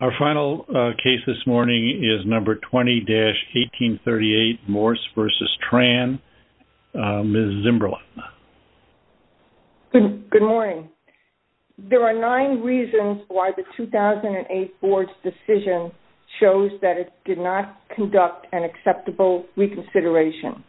Our final case this morning is number 20-1838 Morse v. Tran. Ms. Zimberlin. Good morning. There are nine reasons why the 2008 board's decision shows that it did not conduct an acceptable reconsideration.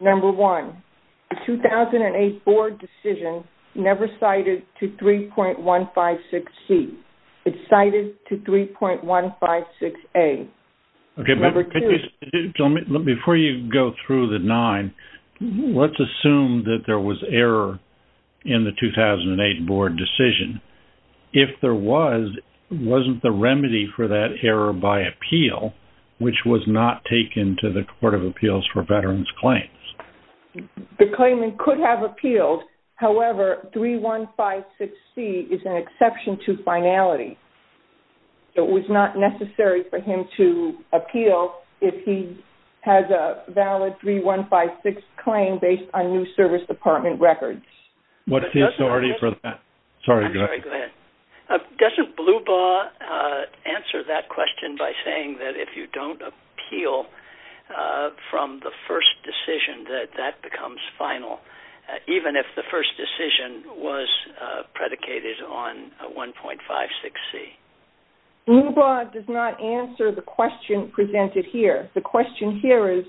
Number one, the 2008 board decision never cited to 3.156C. It's cited to 3.156A. Number two- Before you go through the nine, let's assume that there was error in the 2008 board decision. If there was, wasn't the remedy for that error by appeal, which was not taken to the Court of Appeals. However, 3.156C is an exception to finality. It was not necessary for him to appeal if he has a valid 3.156 claim based on new service department records. Doesn't Blubaugh answer that question by saying that if you don't appeal from the first decision that that becomes final, even if the first decision was predicated on 1.56C? Blubaugh does not answer the question presented here. The question here is,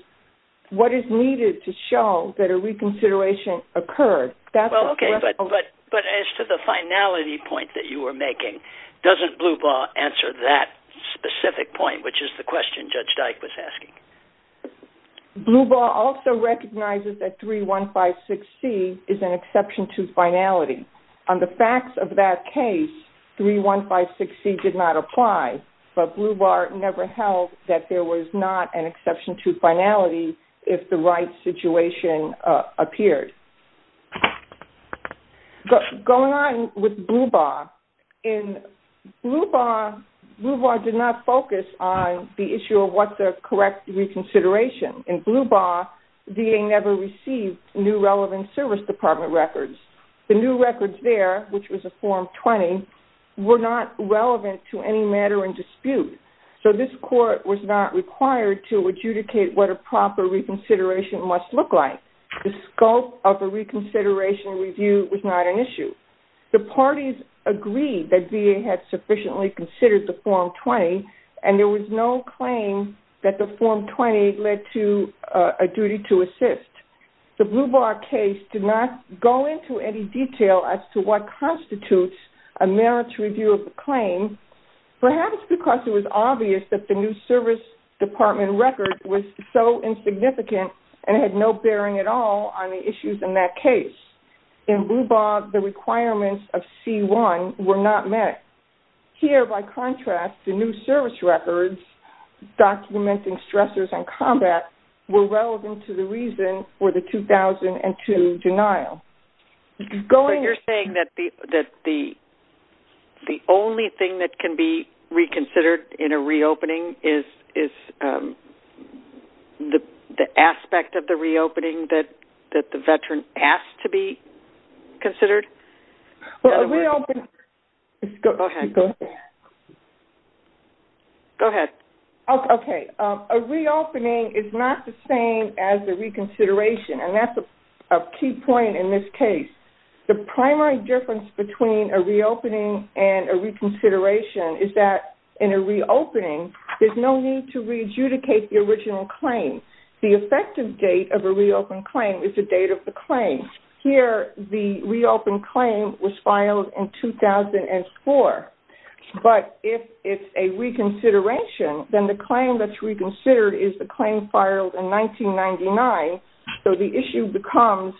what is needed to show that a reconsideration occurred? Well, okay. But as to the finality point that you were making, doesn't Blubaugh answer that specific point, which is the question Judge Dyke was asking? Blubaugh also recognizes that 3.156C is an exception to finality. On the facts of that case, 3.156C did not apply, but Blubaugh never held that there was not an exception to finality if the right situation appeared. Going on with Blubaugh, Blubaugh did not focus on the issue of what the correct reconsideration. In Blubaugh, the DA never received new relevant service department records. The new records there, which was a Form 20, were not relevant to any matter in dispute. So this court was not required to adjudicate what a proper reconsideration must look like. The scope of a reconsideration review was not an issue. The parties agreed that VA had sufficiently considered the Form 20, and there was no claim that the Form 20 led to a duty to assist. The Blubaugh case did not go into any detail as to what constitutes a merits review of a claim, perhaps because it was obvious that the new service department record was so insignificant and had no bearing at all on the issues in that case. In Blubaugh, the requirements of C1 were not met. Here, by contrast, the new service records documenting stressors and combat were relevant to the reason for the 2002 denial. So you're saying that the only thing that can be reconsidered in a reopening is the aspect of the reopening that the Veteran has to be considered? Well, a reopening is not the same as a reconsideration, and that's a key point in this case. The primary difference between a reopening and a reconsideration is that in a reopening, there's no need to re-adjudicate the original claim. The effective date of a reopened claim is the date of the claim. Here, the reopened claim was filed in 2004. But if it's a reconsideration, then the claim that's reconsidered is the claim filed in 1999, so the issue becomes,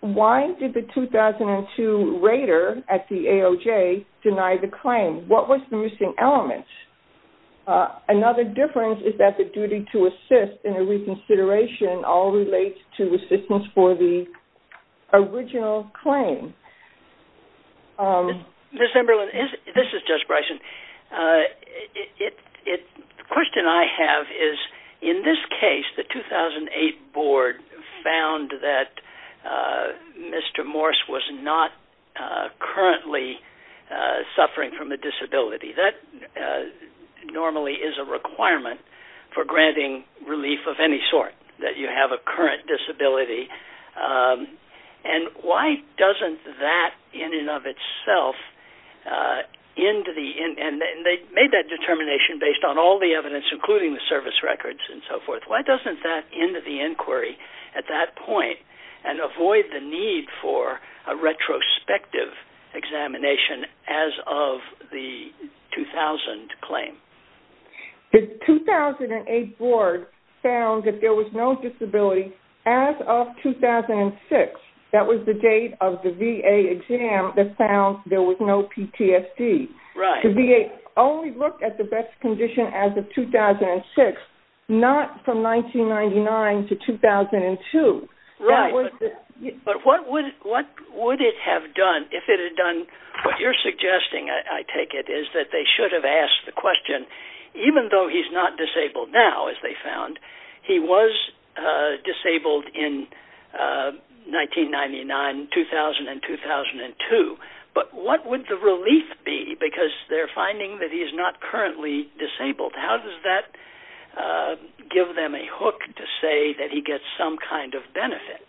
why did the 2002 rater at the AOJ deny the claim? What was the missing element? Another difference is that the duty to assist in a reconsideration all relates to assistance for the original claim. Ms. Emberlin, this is Judge Bryson. The question I have is, in this case, the 2008 board found that Mr. Morse was not currently suffering from a disability. That normally is a requirement for granting relief of any sort, that you have a current disability. And why doesn't that, in and of itself, end to the end, and they made that determination based on all the evidence, including the service records and so forth. Why doesn't that end to the inquiry at that point and avoid the need for a retrospective examination as of the 2000 and 2008 board found that there was no disability as of 2006? That was the date of the VA exam that found there was no PTSD. The VA only looked at the best condition as of 2006, not from 1999 to 2002. Right, but what would it have done if it had done what you're suggesting, I take it, that they should have asked the question, even though he's not disabled now, as they found, he was disabled in 1999, 2000, and 2002, but what would the relief be? Because they're finding that he's not currently disabled. How does that give them a hook to say that he gets some kind of benefit?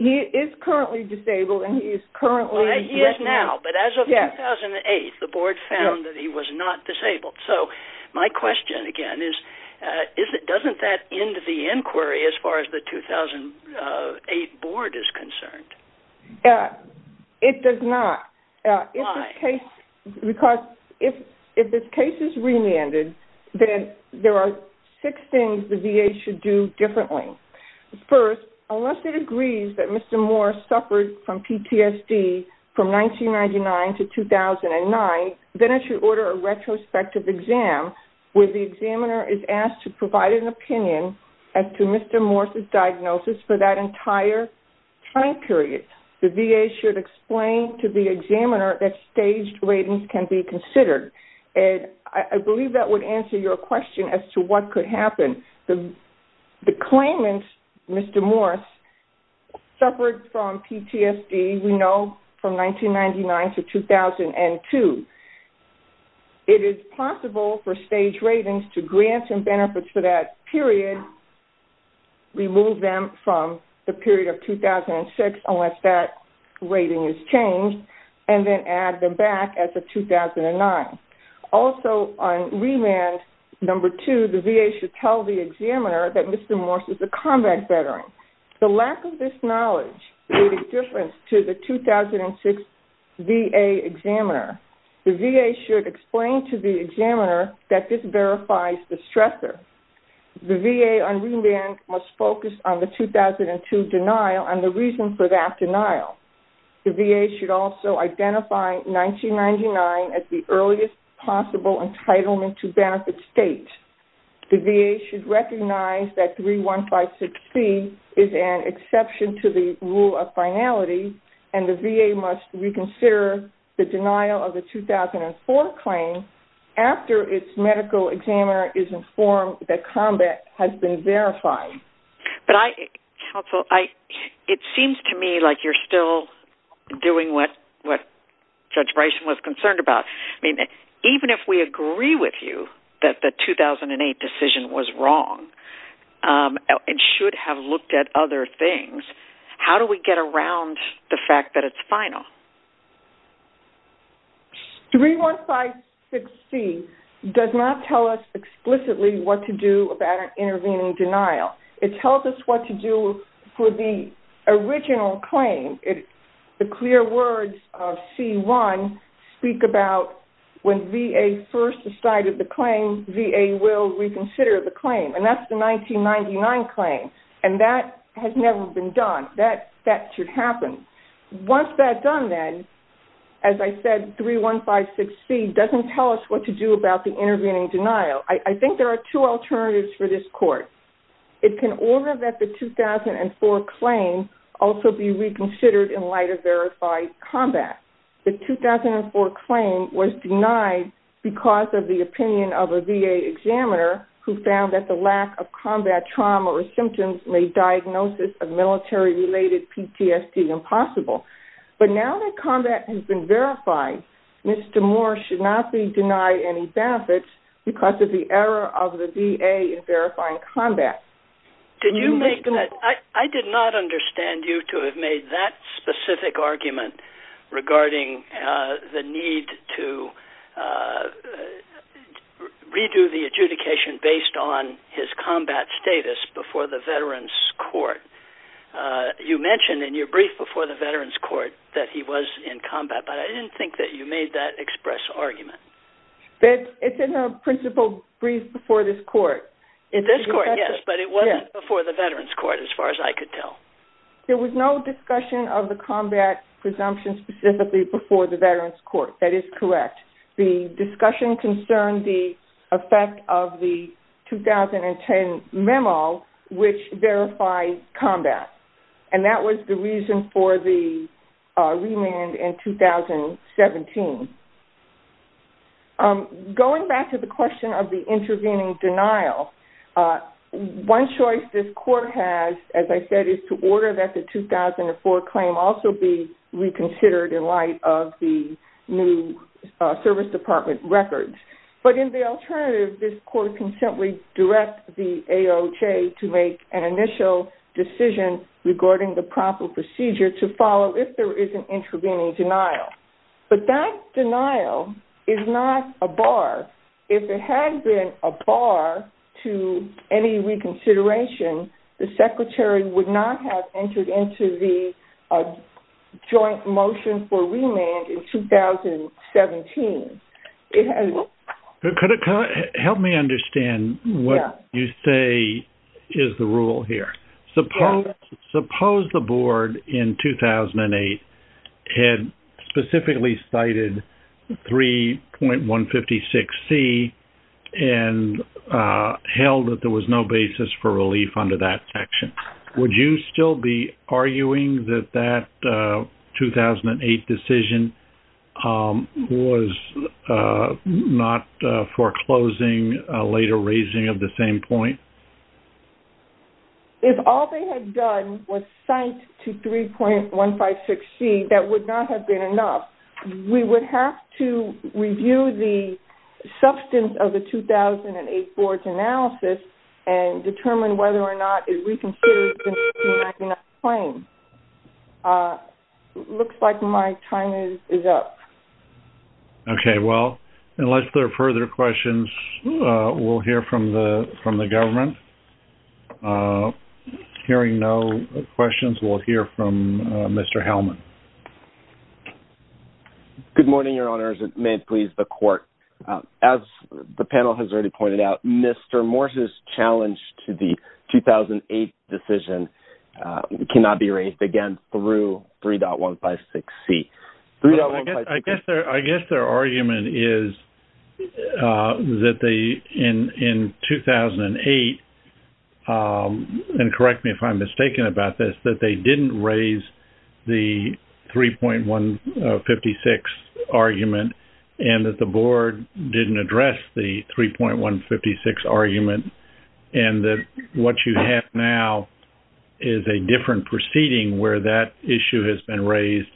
He is currently disabled, and he is currently... Right, he is now, but as of 2008, the board found that he was not disabled. So my question again is, doesn't that end the inquiry as far as the 2008 board is concerned? It does not. Why? Because if this case is remanded, then there are six things the VA should do differently. First, unless it agrees that Mr. Morse suffered from PTSD from 1999 to 2009, then it should order a retrospective exam where the examiner is asked to provide an opinion as to Mr. Morse's diagnosis for that entire time period. The VA should explain to the examiner that staged ratings can be considered. I believe that would answer your question as to what could happen. The claimant, Mr. Morse, suffered from PTSD, we know, from 1999 to 2002. It is possible for staged ratings to grant him benefits for that period, remove them from the period of 2006 unless that rating is changed, and then add them back as of the examiner that Mr. Morse is a combat veteran. The lack of this knowledge made a difference to the 2006 VA examiner. The VA should explain to the examiner that this verifies the stressor. The VA on remand must focus on the 2002 denial and the reason for that denial. The VA should identify 1999 as the earliest possible entitlement to benefit state. The VA should recognize that 3156C is an exception to the rule of finality, and the VA must reconsider the denial of the 2004 claim after its medical examiner is informed that combat has been verified. Counsel, it seems to me like you're still doing what Judge Bryson was concerned about. Even if we agree with you that the 2008 decision was wrong and should have looked at other things, how do we get around the fact that it's final? 3156C does not tell us explicitly what to do about an intervening denial. It tells us what to do for the original claim. The clear words of C1 speak about when VA first decided the claim, VA will reconsider the claim, and that's the 1999 claim, and that has never been done. That should happen. Once that's done, then, as I said, 3156C doesn't tell us what to do about the intervening denial. I think there are two alternatives for this court. It can order that the 2004 claim also be reconsidered in light of verified combat. The 2004 claim was denied because of the opinion of a VA examiner who found that the lack of combat trauma or symptoms made diagnosis of military-related PTSD impossible. Now that combat has been verified, Mr. Moore should not be denied any benefits because of the error of the VA in verifying combat. I did not understand you to have made that specific argument regarding the need to redo the adjudication based on his combat status before the Veterans Court. You mentioned in your brief before the Veterans Court that he was in combat, but I didn't think that you made that express argument. It's in the principal brief before this court. In this court, yes, but it wasn't before the Veterans Court as far as I could tell. There was no discussion of the combat presumption specifically before the Veterans Court. That is effect of the 2010 memo, which verified combat. That was the reason for the remand in 2017. Going back to the question of the intervening denial, one choice this court has, as I said, is to order that the 2004 claim also be reconsidered in light of the new service department records. In the alternative, this court can simply direct the AOJ to make an initial decision regarding the proper procedure to follow if there is an intervening denial. That denial is not a bar. If it had been a bar to any reconsideration, the Secretary would not have entered into the joint motion for remand in 2017. Could you help me understand what you say is the rule here? Suppose the board in 2008 had specifically cited 3.156C and held that there was no basis for relief under that section. Would you still be arguing that that 2008 decision was not foreclosing, later raising of the same point? If all they had done was cite to 3.156C, that would not have been enough. We would have to review the substance of the 2008 board's analysis and determine whether or not it reconsidered the 1999 claim. It looks like my time is up. Okay. Well, unless there are further questions, we'll hear from the government. Hearing no questions, we'll hear from Mr. Hellman. Good morning, Your Honors, and may it please the court. As the panel has already pointed out, Mr. Morse's challenge to the 2008 decision cannot be raised again through 3.156C. I guess their argument is that in 2008, and correct me if I'm mistaken about this, that they didn't raise the 3.156 argument and that the board didn't address the 3.156 argument and that what you have now is a different proceeding where that issue has been raised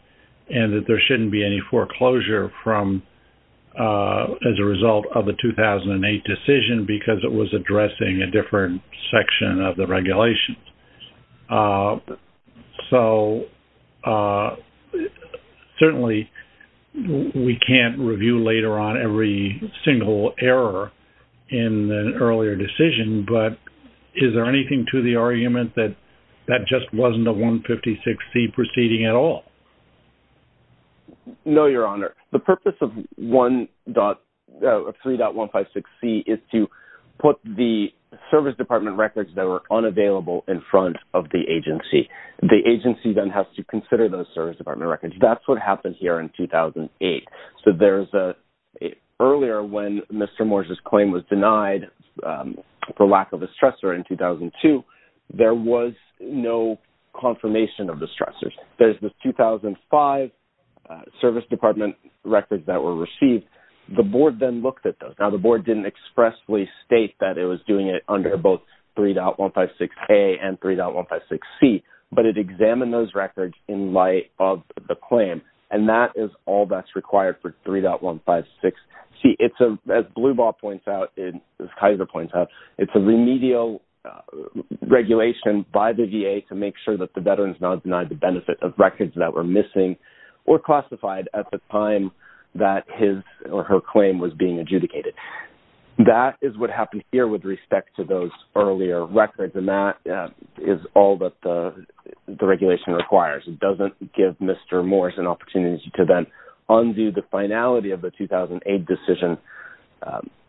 and that there shouldn't be any foreclosure as a result of the 2008 decision because it was addressing a different section of the regulations. So, certainly, we can't review later on every single error in the earlier decision, but is there anything to the argument that that just wasn't a 156C proceeding at all? No, Your Honor. The purpose of 3.156C is to put the Service Department records that were unavailable in front of the agency. The agency then has to consider those Service Department records. That's what happened here in 2008. So, earlier when Mr. Morse's claim was denied for lack of a stressor in 2002, there was no confirmation of the stressors. There's the 2005 Service Department records that were received. The board then looked at those. Now, the board didn't expressly state that it was doing it under both 3.156A and 3.156C, but it examined those records in light of the claim and that is all that's required for 3.156C. As Blue Ball points out, as Kaiser points out, it's a remedial regulation by the VA to make sure that the veteran is not denied the benefit of records that were missing or classified at the time that his or her claim was being adjudicated. That is what happened here with respect to those earlier records and that is all that the regulation requires. It doesn't give Mr. Morse an opportunity to then undo the finality of the 2008 decision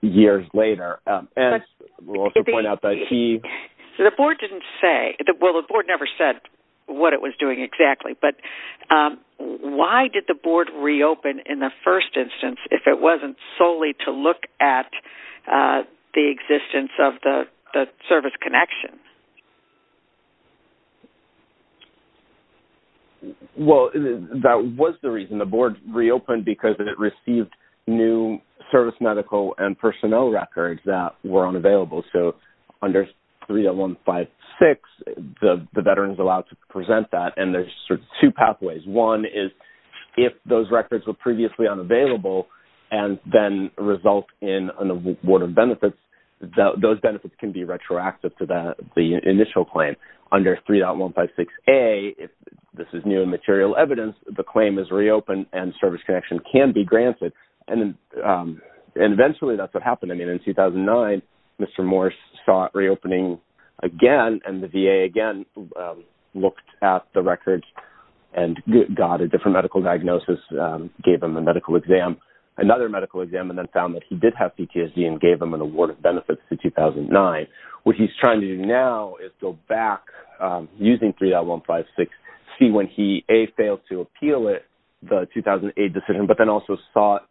years later. The board never said what it was doing exactly, but why did the board reopen in the first instance if it wasn't solely to look at the existence of the service connection? Well, that was the reason the board reopened because it received new service medical and personnel records that were unavailable. So, under 3.156, the veterans are allowed to present that and there are two pathways. One is if those records were previously unavailable and then result in an award of benefits, those benefits can be retroactive to the initial claim. Under 3.156A, if this is new and material evidence, the claim is reopened and service connection can be granted. Eventually, that's what happened. In 2009, Mr. Morse saw it reopening again and the and got a different medical diagnosis, gave him a medical exam, another medical exam, and then found that he did have PTSD and gave him an award of benefits in 2009. What he's trying to do now is go back using 3.156C when he, A, failed to appeal the 2008 decision, but then also sought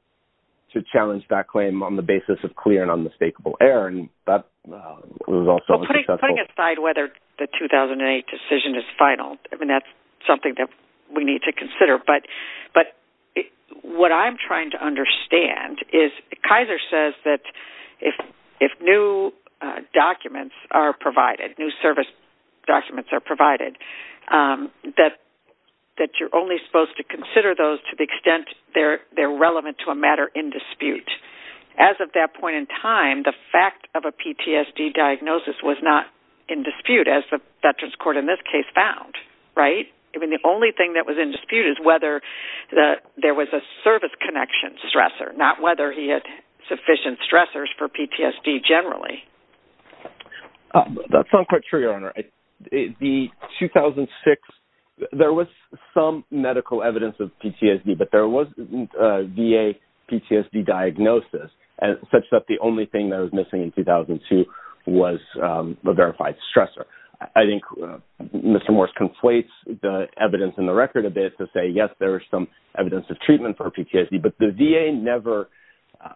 to challenge that claim on the basis of clear and unmistakable error. Well, putting aside whether the 2008 decision is final, I mean, that's something that we need to consider, but what I'm trying to understand is Kaiser says that if new documents are provided, new service documents are provided, that you're only supposed to consider those to the extent they're relevant to a matter in dispute. As of that point in time, the fact of a PTSD diagnosis was not in dispute as the Veterans Court in this case found, right? I mean, the only thing that was in dispute is whether there was a service connection stressor, not whether he had sufficient stressors for PTSD generally. That's not quite true, Your Honor. The 2006, there was some medical evidence of PTSD, but there wasn't a VA PTSD diagnosis such that the only thing that was missing in 2002 was the verified stressor. I think Mr. Morse conflates the evidence in the record a bit to say, yes, there was some evidence of treatment for PTSD, but the VA never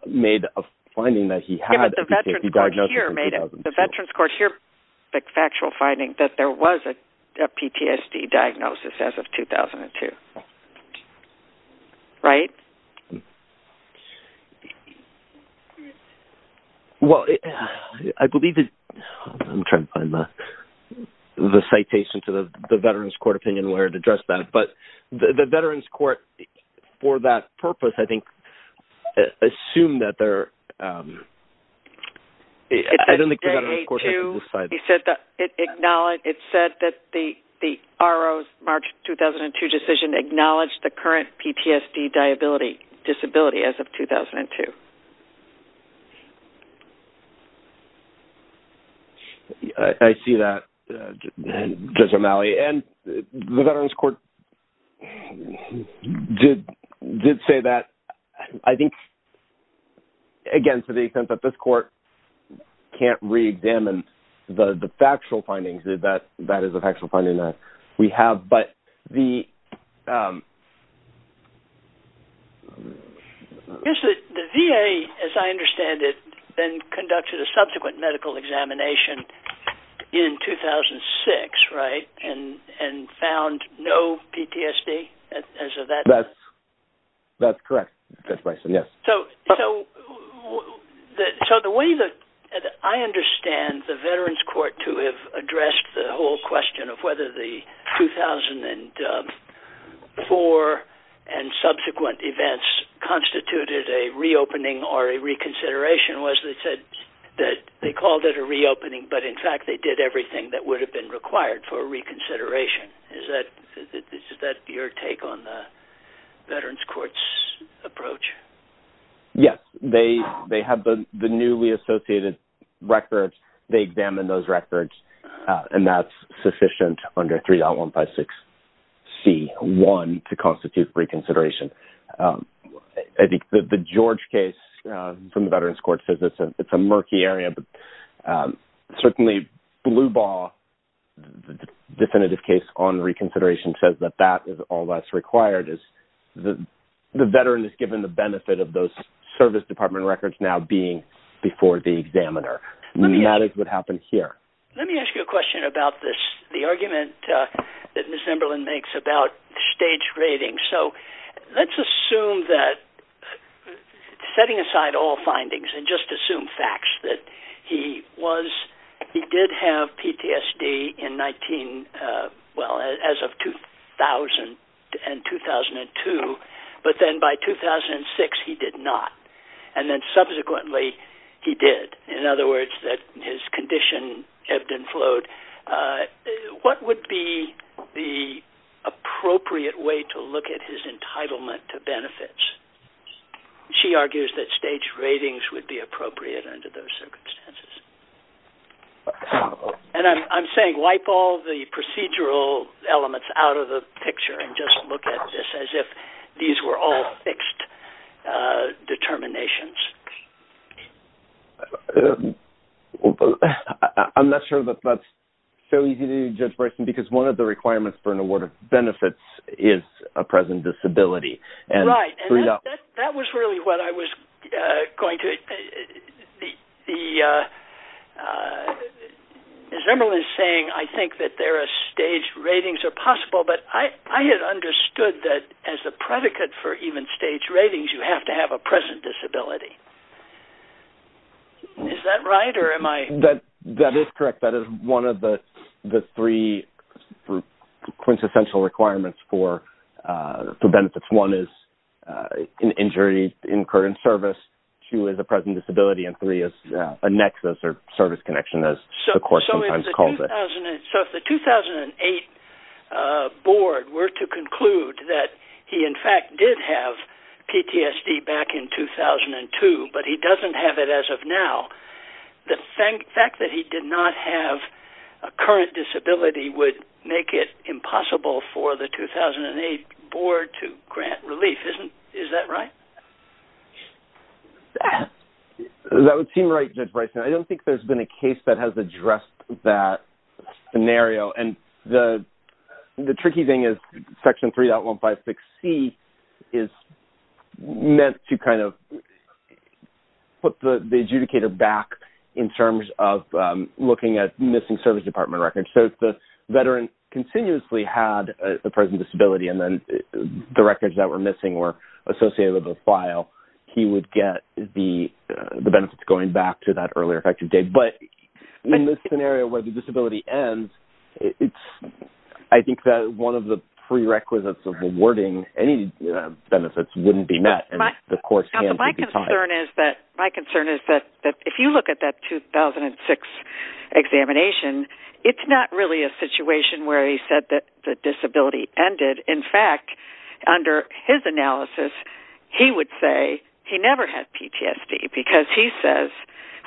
made a finding that he had a PTSD diagnosis in 2002. The Veterans Court here, the factual finding that there was a PTSD diagnosis as of 2002, right? Well, I believe that I'm trying to find the citation to the Veterans Court opinion where to address that, but the Veterans Court for that purpose, I think, assume that there was a PTSD diagnosis as of 2002. It said that the RO's March 2002 decision acknowledged the current PTSD disability as of 2002. I see that, Judge O'Malley, and the Veterans Court did say that. I think, again, to the extent that this court can't re-examine the factual findings, that is a factual finding that we have, but the... Yes, the VA, as I understand it, then conducted a subsequent medical examination in 2006, right, and found no PTSD as of that time? That's correct, Judge Bryson, yes. So, the way that I understand the Veterans Court to have addressed the whole question of whether the 2004 and subsequent events constituted a reopening or a reconsideration was that they called it a reopening, but in fact, they did everything that would have been required for a reconsideration. Is that your take on the Veterans Court's approach? Yes. They have the newly associated records. They examined those records, and that's sufficient under 3.156C1 to constitute reconsideration. I think the George case from the Veterans Court says it's a murky area, but certainly, Blue Ball, the definitive case on reconsideration says that that is all that's required. The veteran is given the benefit of those service department records now being before the examiner. That is what happened here. Let me ask you a question about this, the argument that Ms. Emberlin makes about stage rating. So, let's assume that, setting aside all findings and just assume facts, that he did have PTSD in 19, well, as of 2000 and 2002, but then by 2006, he did not, and then subsequently, he did. In other words, that his condition ebbed and flowed. What would be the appropriate way to look at his entitlement to benefits? She argues that stage ratings would be appropriate under those circumstances. I'm saying wipe all the procedural elements out of the picture and just look at this as if these were all fixed determinations. I'm not sure that that's so easy Judge Bryson, because one of the requirements for an award of benefits is a present disability. Right, and that was really what I was going to... As Emberlin is saying, I think that there are stage ratings are possible, but I had understood that as a predicate for even stage ratings, you have to have a present disability. Is that right, or am I... That is correct. That is one of the three quintessential requirements for benefits. One is an injury incurred in service, two is a present disability, and three is a nexus or service connection, as the court sometimes calls it. So, if the 2008 board were to conclude that he, in fact, did have PTSD back in 2002, but he doesn't have it as of now, the fact that he did not have a current disability would make it impossible for the 2008 board to grant relief. Is that right? That would seem right, Judge Bryson. I don't think there's been a case that has addressed that scenario. And the tricky thing is Section 3.156C is meant to kind of put the adjudicator back in terms of looking at missing service department records. So, if the veteran continuously had a present disability and then the records that were missing were associated with a file, he would get the benefits going back to that earlier effective date. But in this scenario where the disability ends, I think that one of the prerequisites of awarding any benefits wouldn't be met. My concern is that if you look at that 2006 examination, it's not really a situation where he said that the disability ended. In fact, under his analysis, he would say he never had PTSD because he says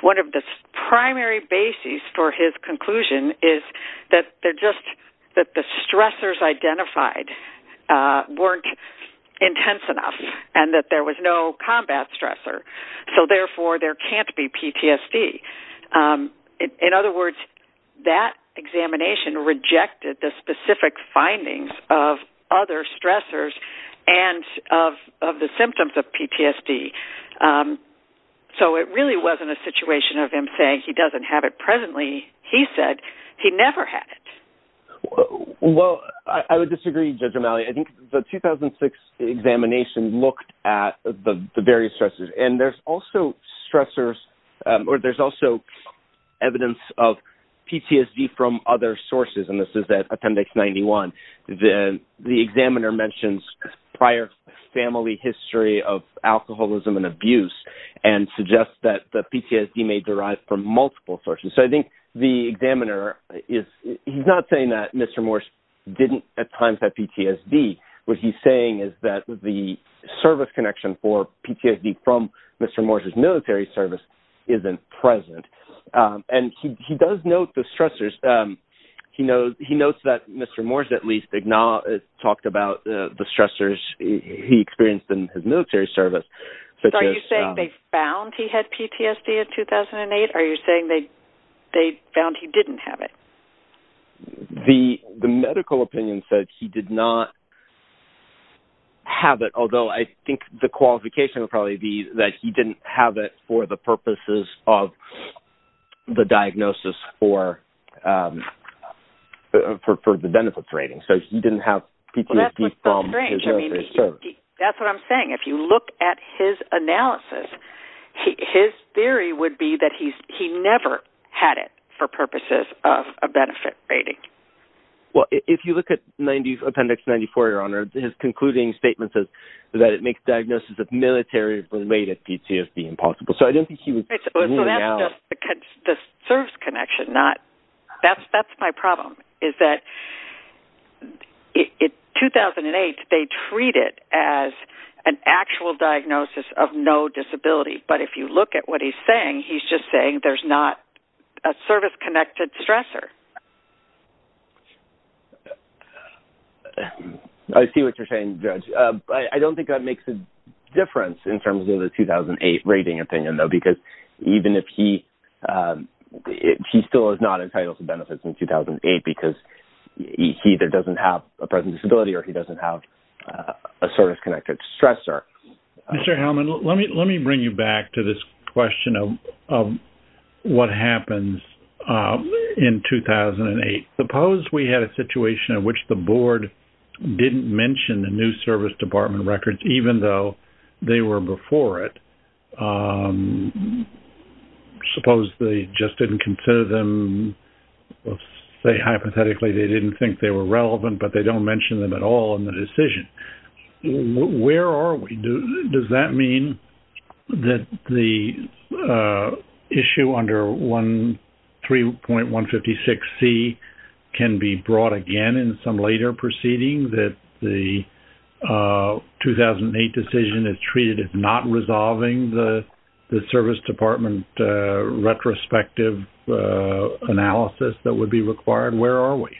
one of the primary bases for his conclusion is that the stressors identified weren't intense enough and that there was no combat stressor. So, therefore, there can't be PTSD. In other words, that examination rejected the specific findings of other stressors and of the symptoms of PTSD. So, it really wasn't a situation of him saying he doesn't have it presently. He said he never had it. Well, I would disagree, Judge O'Malley. I think the 2006 examination looked at the various and there's also stressors or there's also evidence of PTSD from other sources and this is at Appendix 91. The examiner mentions prior family history of alcoholism and abuse and suggests that the PTSD may derive from multiple sources. So, I think the examiner, he's not saying that Mr. Morse didn't at times have PTSD. What he's saying is that the service connection for PTSD from Mr. Morse's military service isn't present. And he does note the stressors. He notes that Mr. Morse at least talked about the stressors he experienced in his military service. So, are you saying they found he had PTSD in 2008? Are you saying they found he didn't have it? The medical opinion said he did not have it, although I think the qualification would probably be that he didn't have it for the purposes of the diagnosis for the benefits rating. So, he didn't have PTSD from his military service. That's what I'm saying. If you look at his analysis, his theory would be that he never had it for purposes of a benefit rating. Well, if you look at Appendix 94, Your Honor, his concluding statement says that it makes diagnosis of military related PTSD impossible. So, I don't think he would rule it out. That's just the service connection. That's my problem is that in 2008, they treat it as an actual diagnosis of no disability. But if you look what he's saying, he's just saying there's not a service-connected stressor. I see what you're saying, Judge. I don't think that makes a difference in terms of the 2008 rating opinion, though, because even if he still is not entitled to benefits in 2008 because he either doesn't have a present disability or he doesn't have a service-connected stressor. Mr. Hellman, let me bring you back to this question of what happens in 2008. Suppose we had a situation in which the board didn't mention the new service department records, even though they were before it. Suppose they just didn't consider them, say, hypothetically, they didn't think they were relevant, but they don't mention them at all in the decision. Where are we? Does that mean that the issue under 3.156C can be brought again in some later proceeding that the 2008 decision is treated as not resolving the service department retrospective analysis that would be required? Where are we?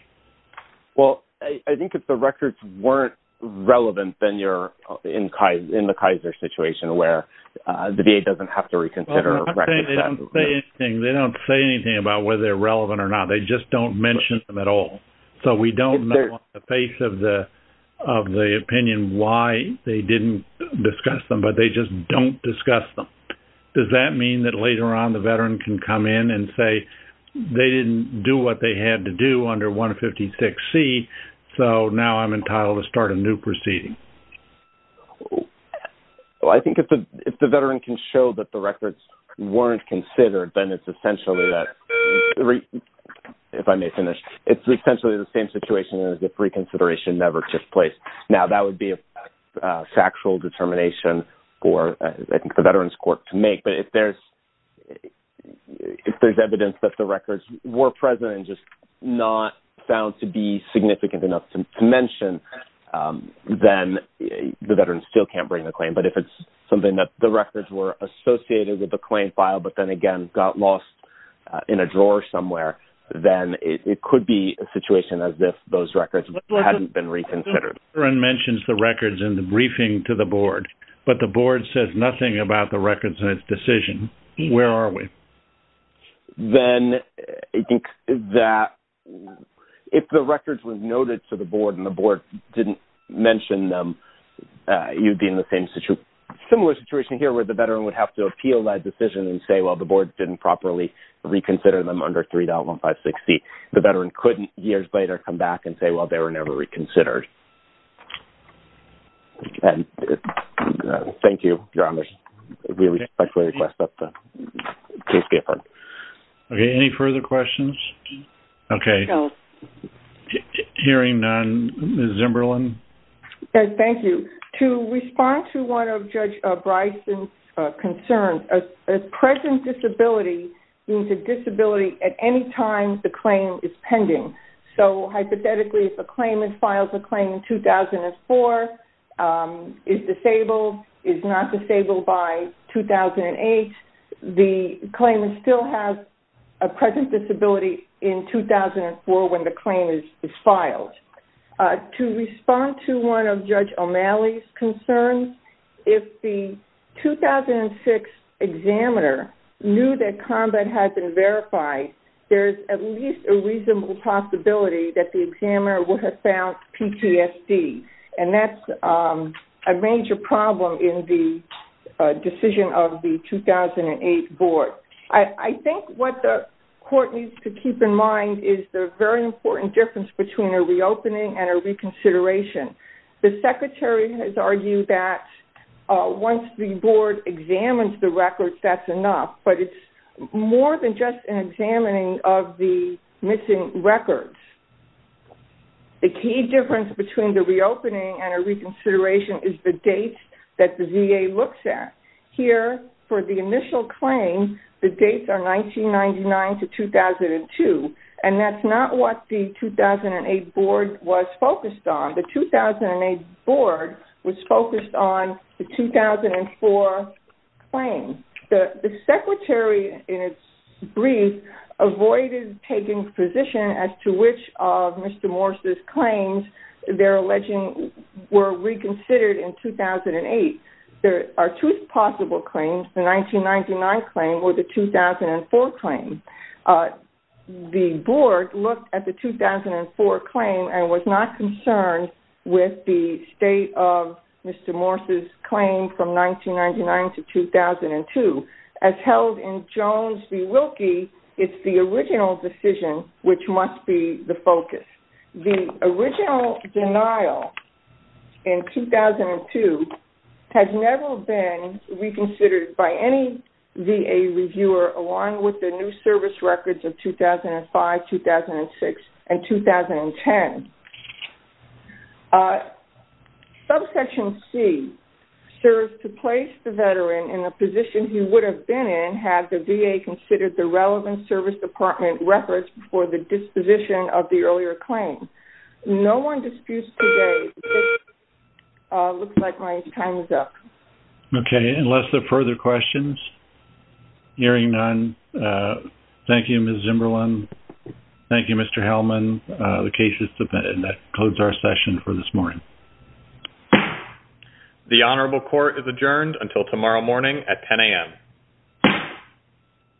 Well, I think if the records weren't relevant, then you're in the Kaiser situation where the VA doesn't have to reconsider. Well, I'm not saying they don't say anything. They don't say anything about whether they're relevant or not. They just don't mention them at all. So we don't know on the face of the opinion why they didn't discuss them, but they just don't discuss them. Does that mean that 3.156C, so now I'm entitled to start a new proceeding? Well, I think if the veteran can show that the records weren't considered, then it's essentially that, if I may finish, it's essentially the same situation as if reconsideration never took place. Now, that would be a factual determination for, I think, the Veterans Court to make, but if there's evidence that the records were present and just not found to be significant enough to mention, then the veterans still can't bring the claim. But if it's something that the records were associated with the claim file, but then, again, got lost in a drawer somewhere, then it could be a situation as if those records hadn't been reconsidered. The veteran mentions the records in the briefing to the board, but the board says nothing about the records in its decision. Where are we? Then, I think that if the records were noted to the board and the board didn't mention them, you'd be in the same situation. Similar situation here where the veteran would have to appeal that decision and say, well, the board didn't properly reconsider them under 3.156C. The veteran couldn't years later come back and say, well, they were never reconsidered. Okay. Thank you, Your Honor. We respectfully request that the case be affirmed. Okay. Any further questions? Okay. Hearing none, Ms. Zimberlin? Thank you. To respond to one of Judge Bryson's concerns, a present disability means a disability at any time the claim is pending. So, hypothetically, if a claimant files a claim in 2004, is disabled, is not disabled by 2008, the claimant still has a present disability in 2004 when the claim is filed. To respond to one of Judge O'Malley's concerns, if the 2006 examiner knew that combat had been verified, there's at least a reasonable possibility that the examiner would have found PTSD, and that's a major problem in the decision of the 2008 board. I think what the court needs to keep in mind is the very important difference between a reopening and a reconsideration. The secretary has argued that once the board examines the records, that's enough, but it's more than just an examining of the missing records. The key difference between the reopening and a reconsideration is the date that the VA looks at. Here, for the initial claim, the dates are 1999 to 2002, and that's not what the 2008 board was focused on. The 2008 board was focused on the 2004 claim. The secretary, in its brief, avoided taking position as to which of Mr. Morris' claims they're alleging were reconsidered in 2008. There are two possible claims. The 1999 claim or the 2004 claim. The board looked at the 2004 claim and was not concerned with the state of Mr. Morris' claim from 1999 to 2002. As held in Jones v. Wilkie, it's the original decision, which must be the focus. The original denial in 2002 has never been reconsidered by any VA reviewer, along with the new service records of 2005, 2006, and 2010. Subsection C serves to place the veteran in a position he would have been in had the VA considered the relevant service department records for the disposition of the earlier claim. No one disputes today. It looks like my time is up. Okay. Unless there are further questions? Hearing none, thank you, Ms. Zimberlin. Thank you, Mr. Hellman. The case is submitted. That concludes our session for this morning. The honorable court is adjourned until tomorrow morning at 10 a.m.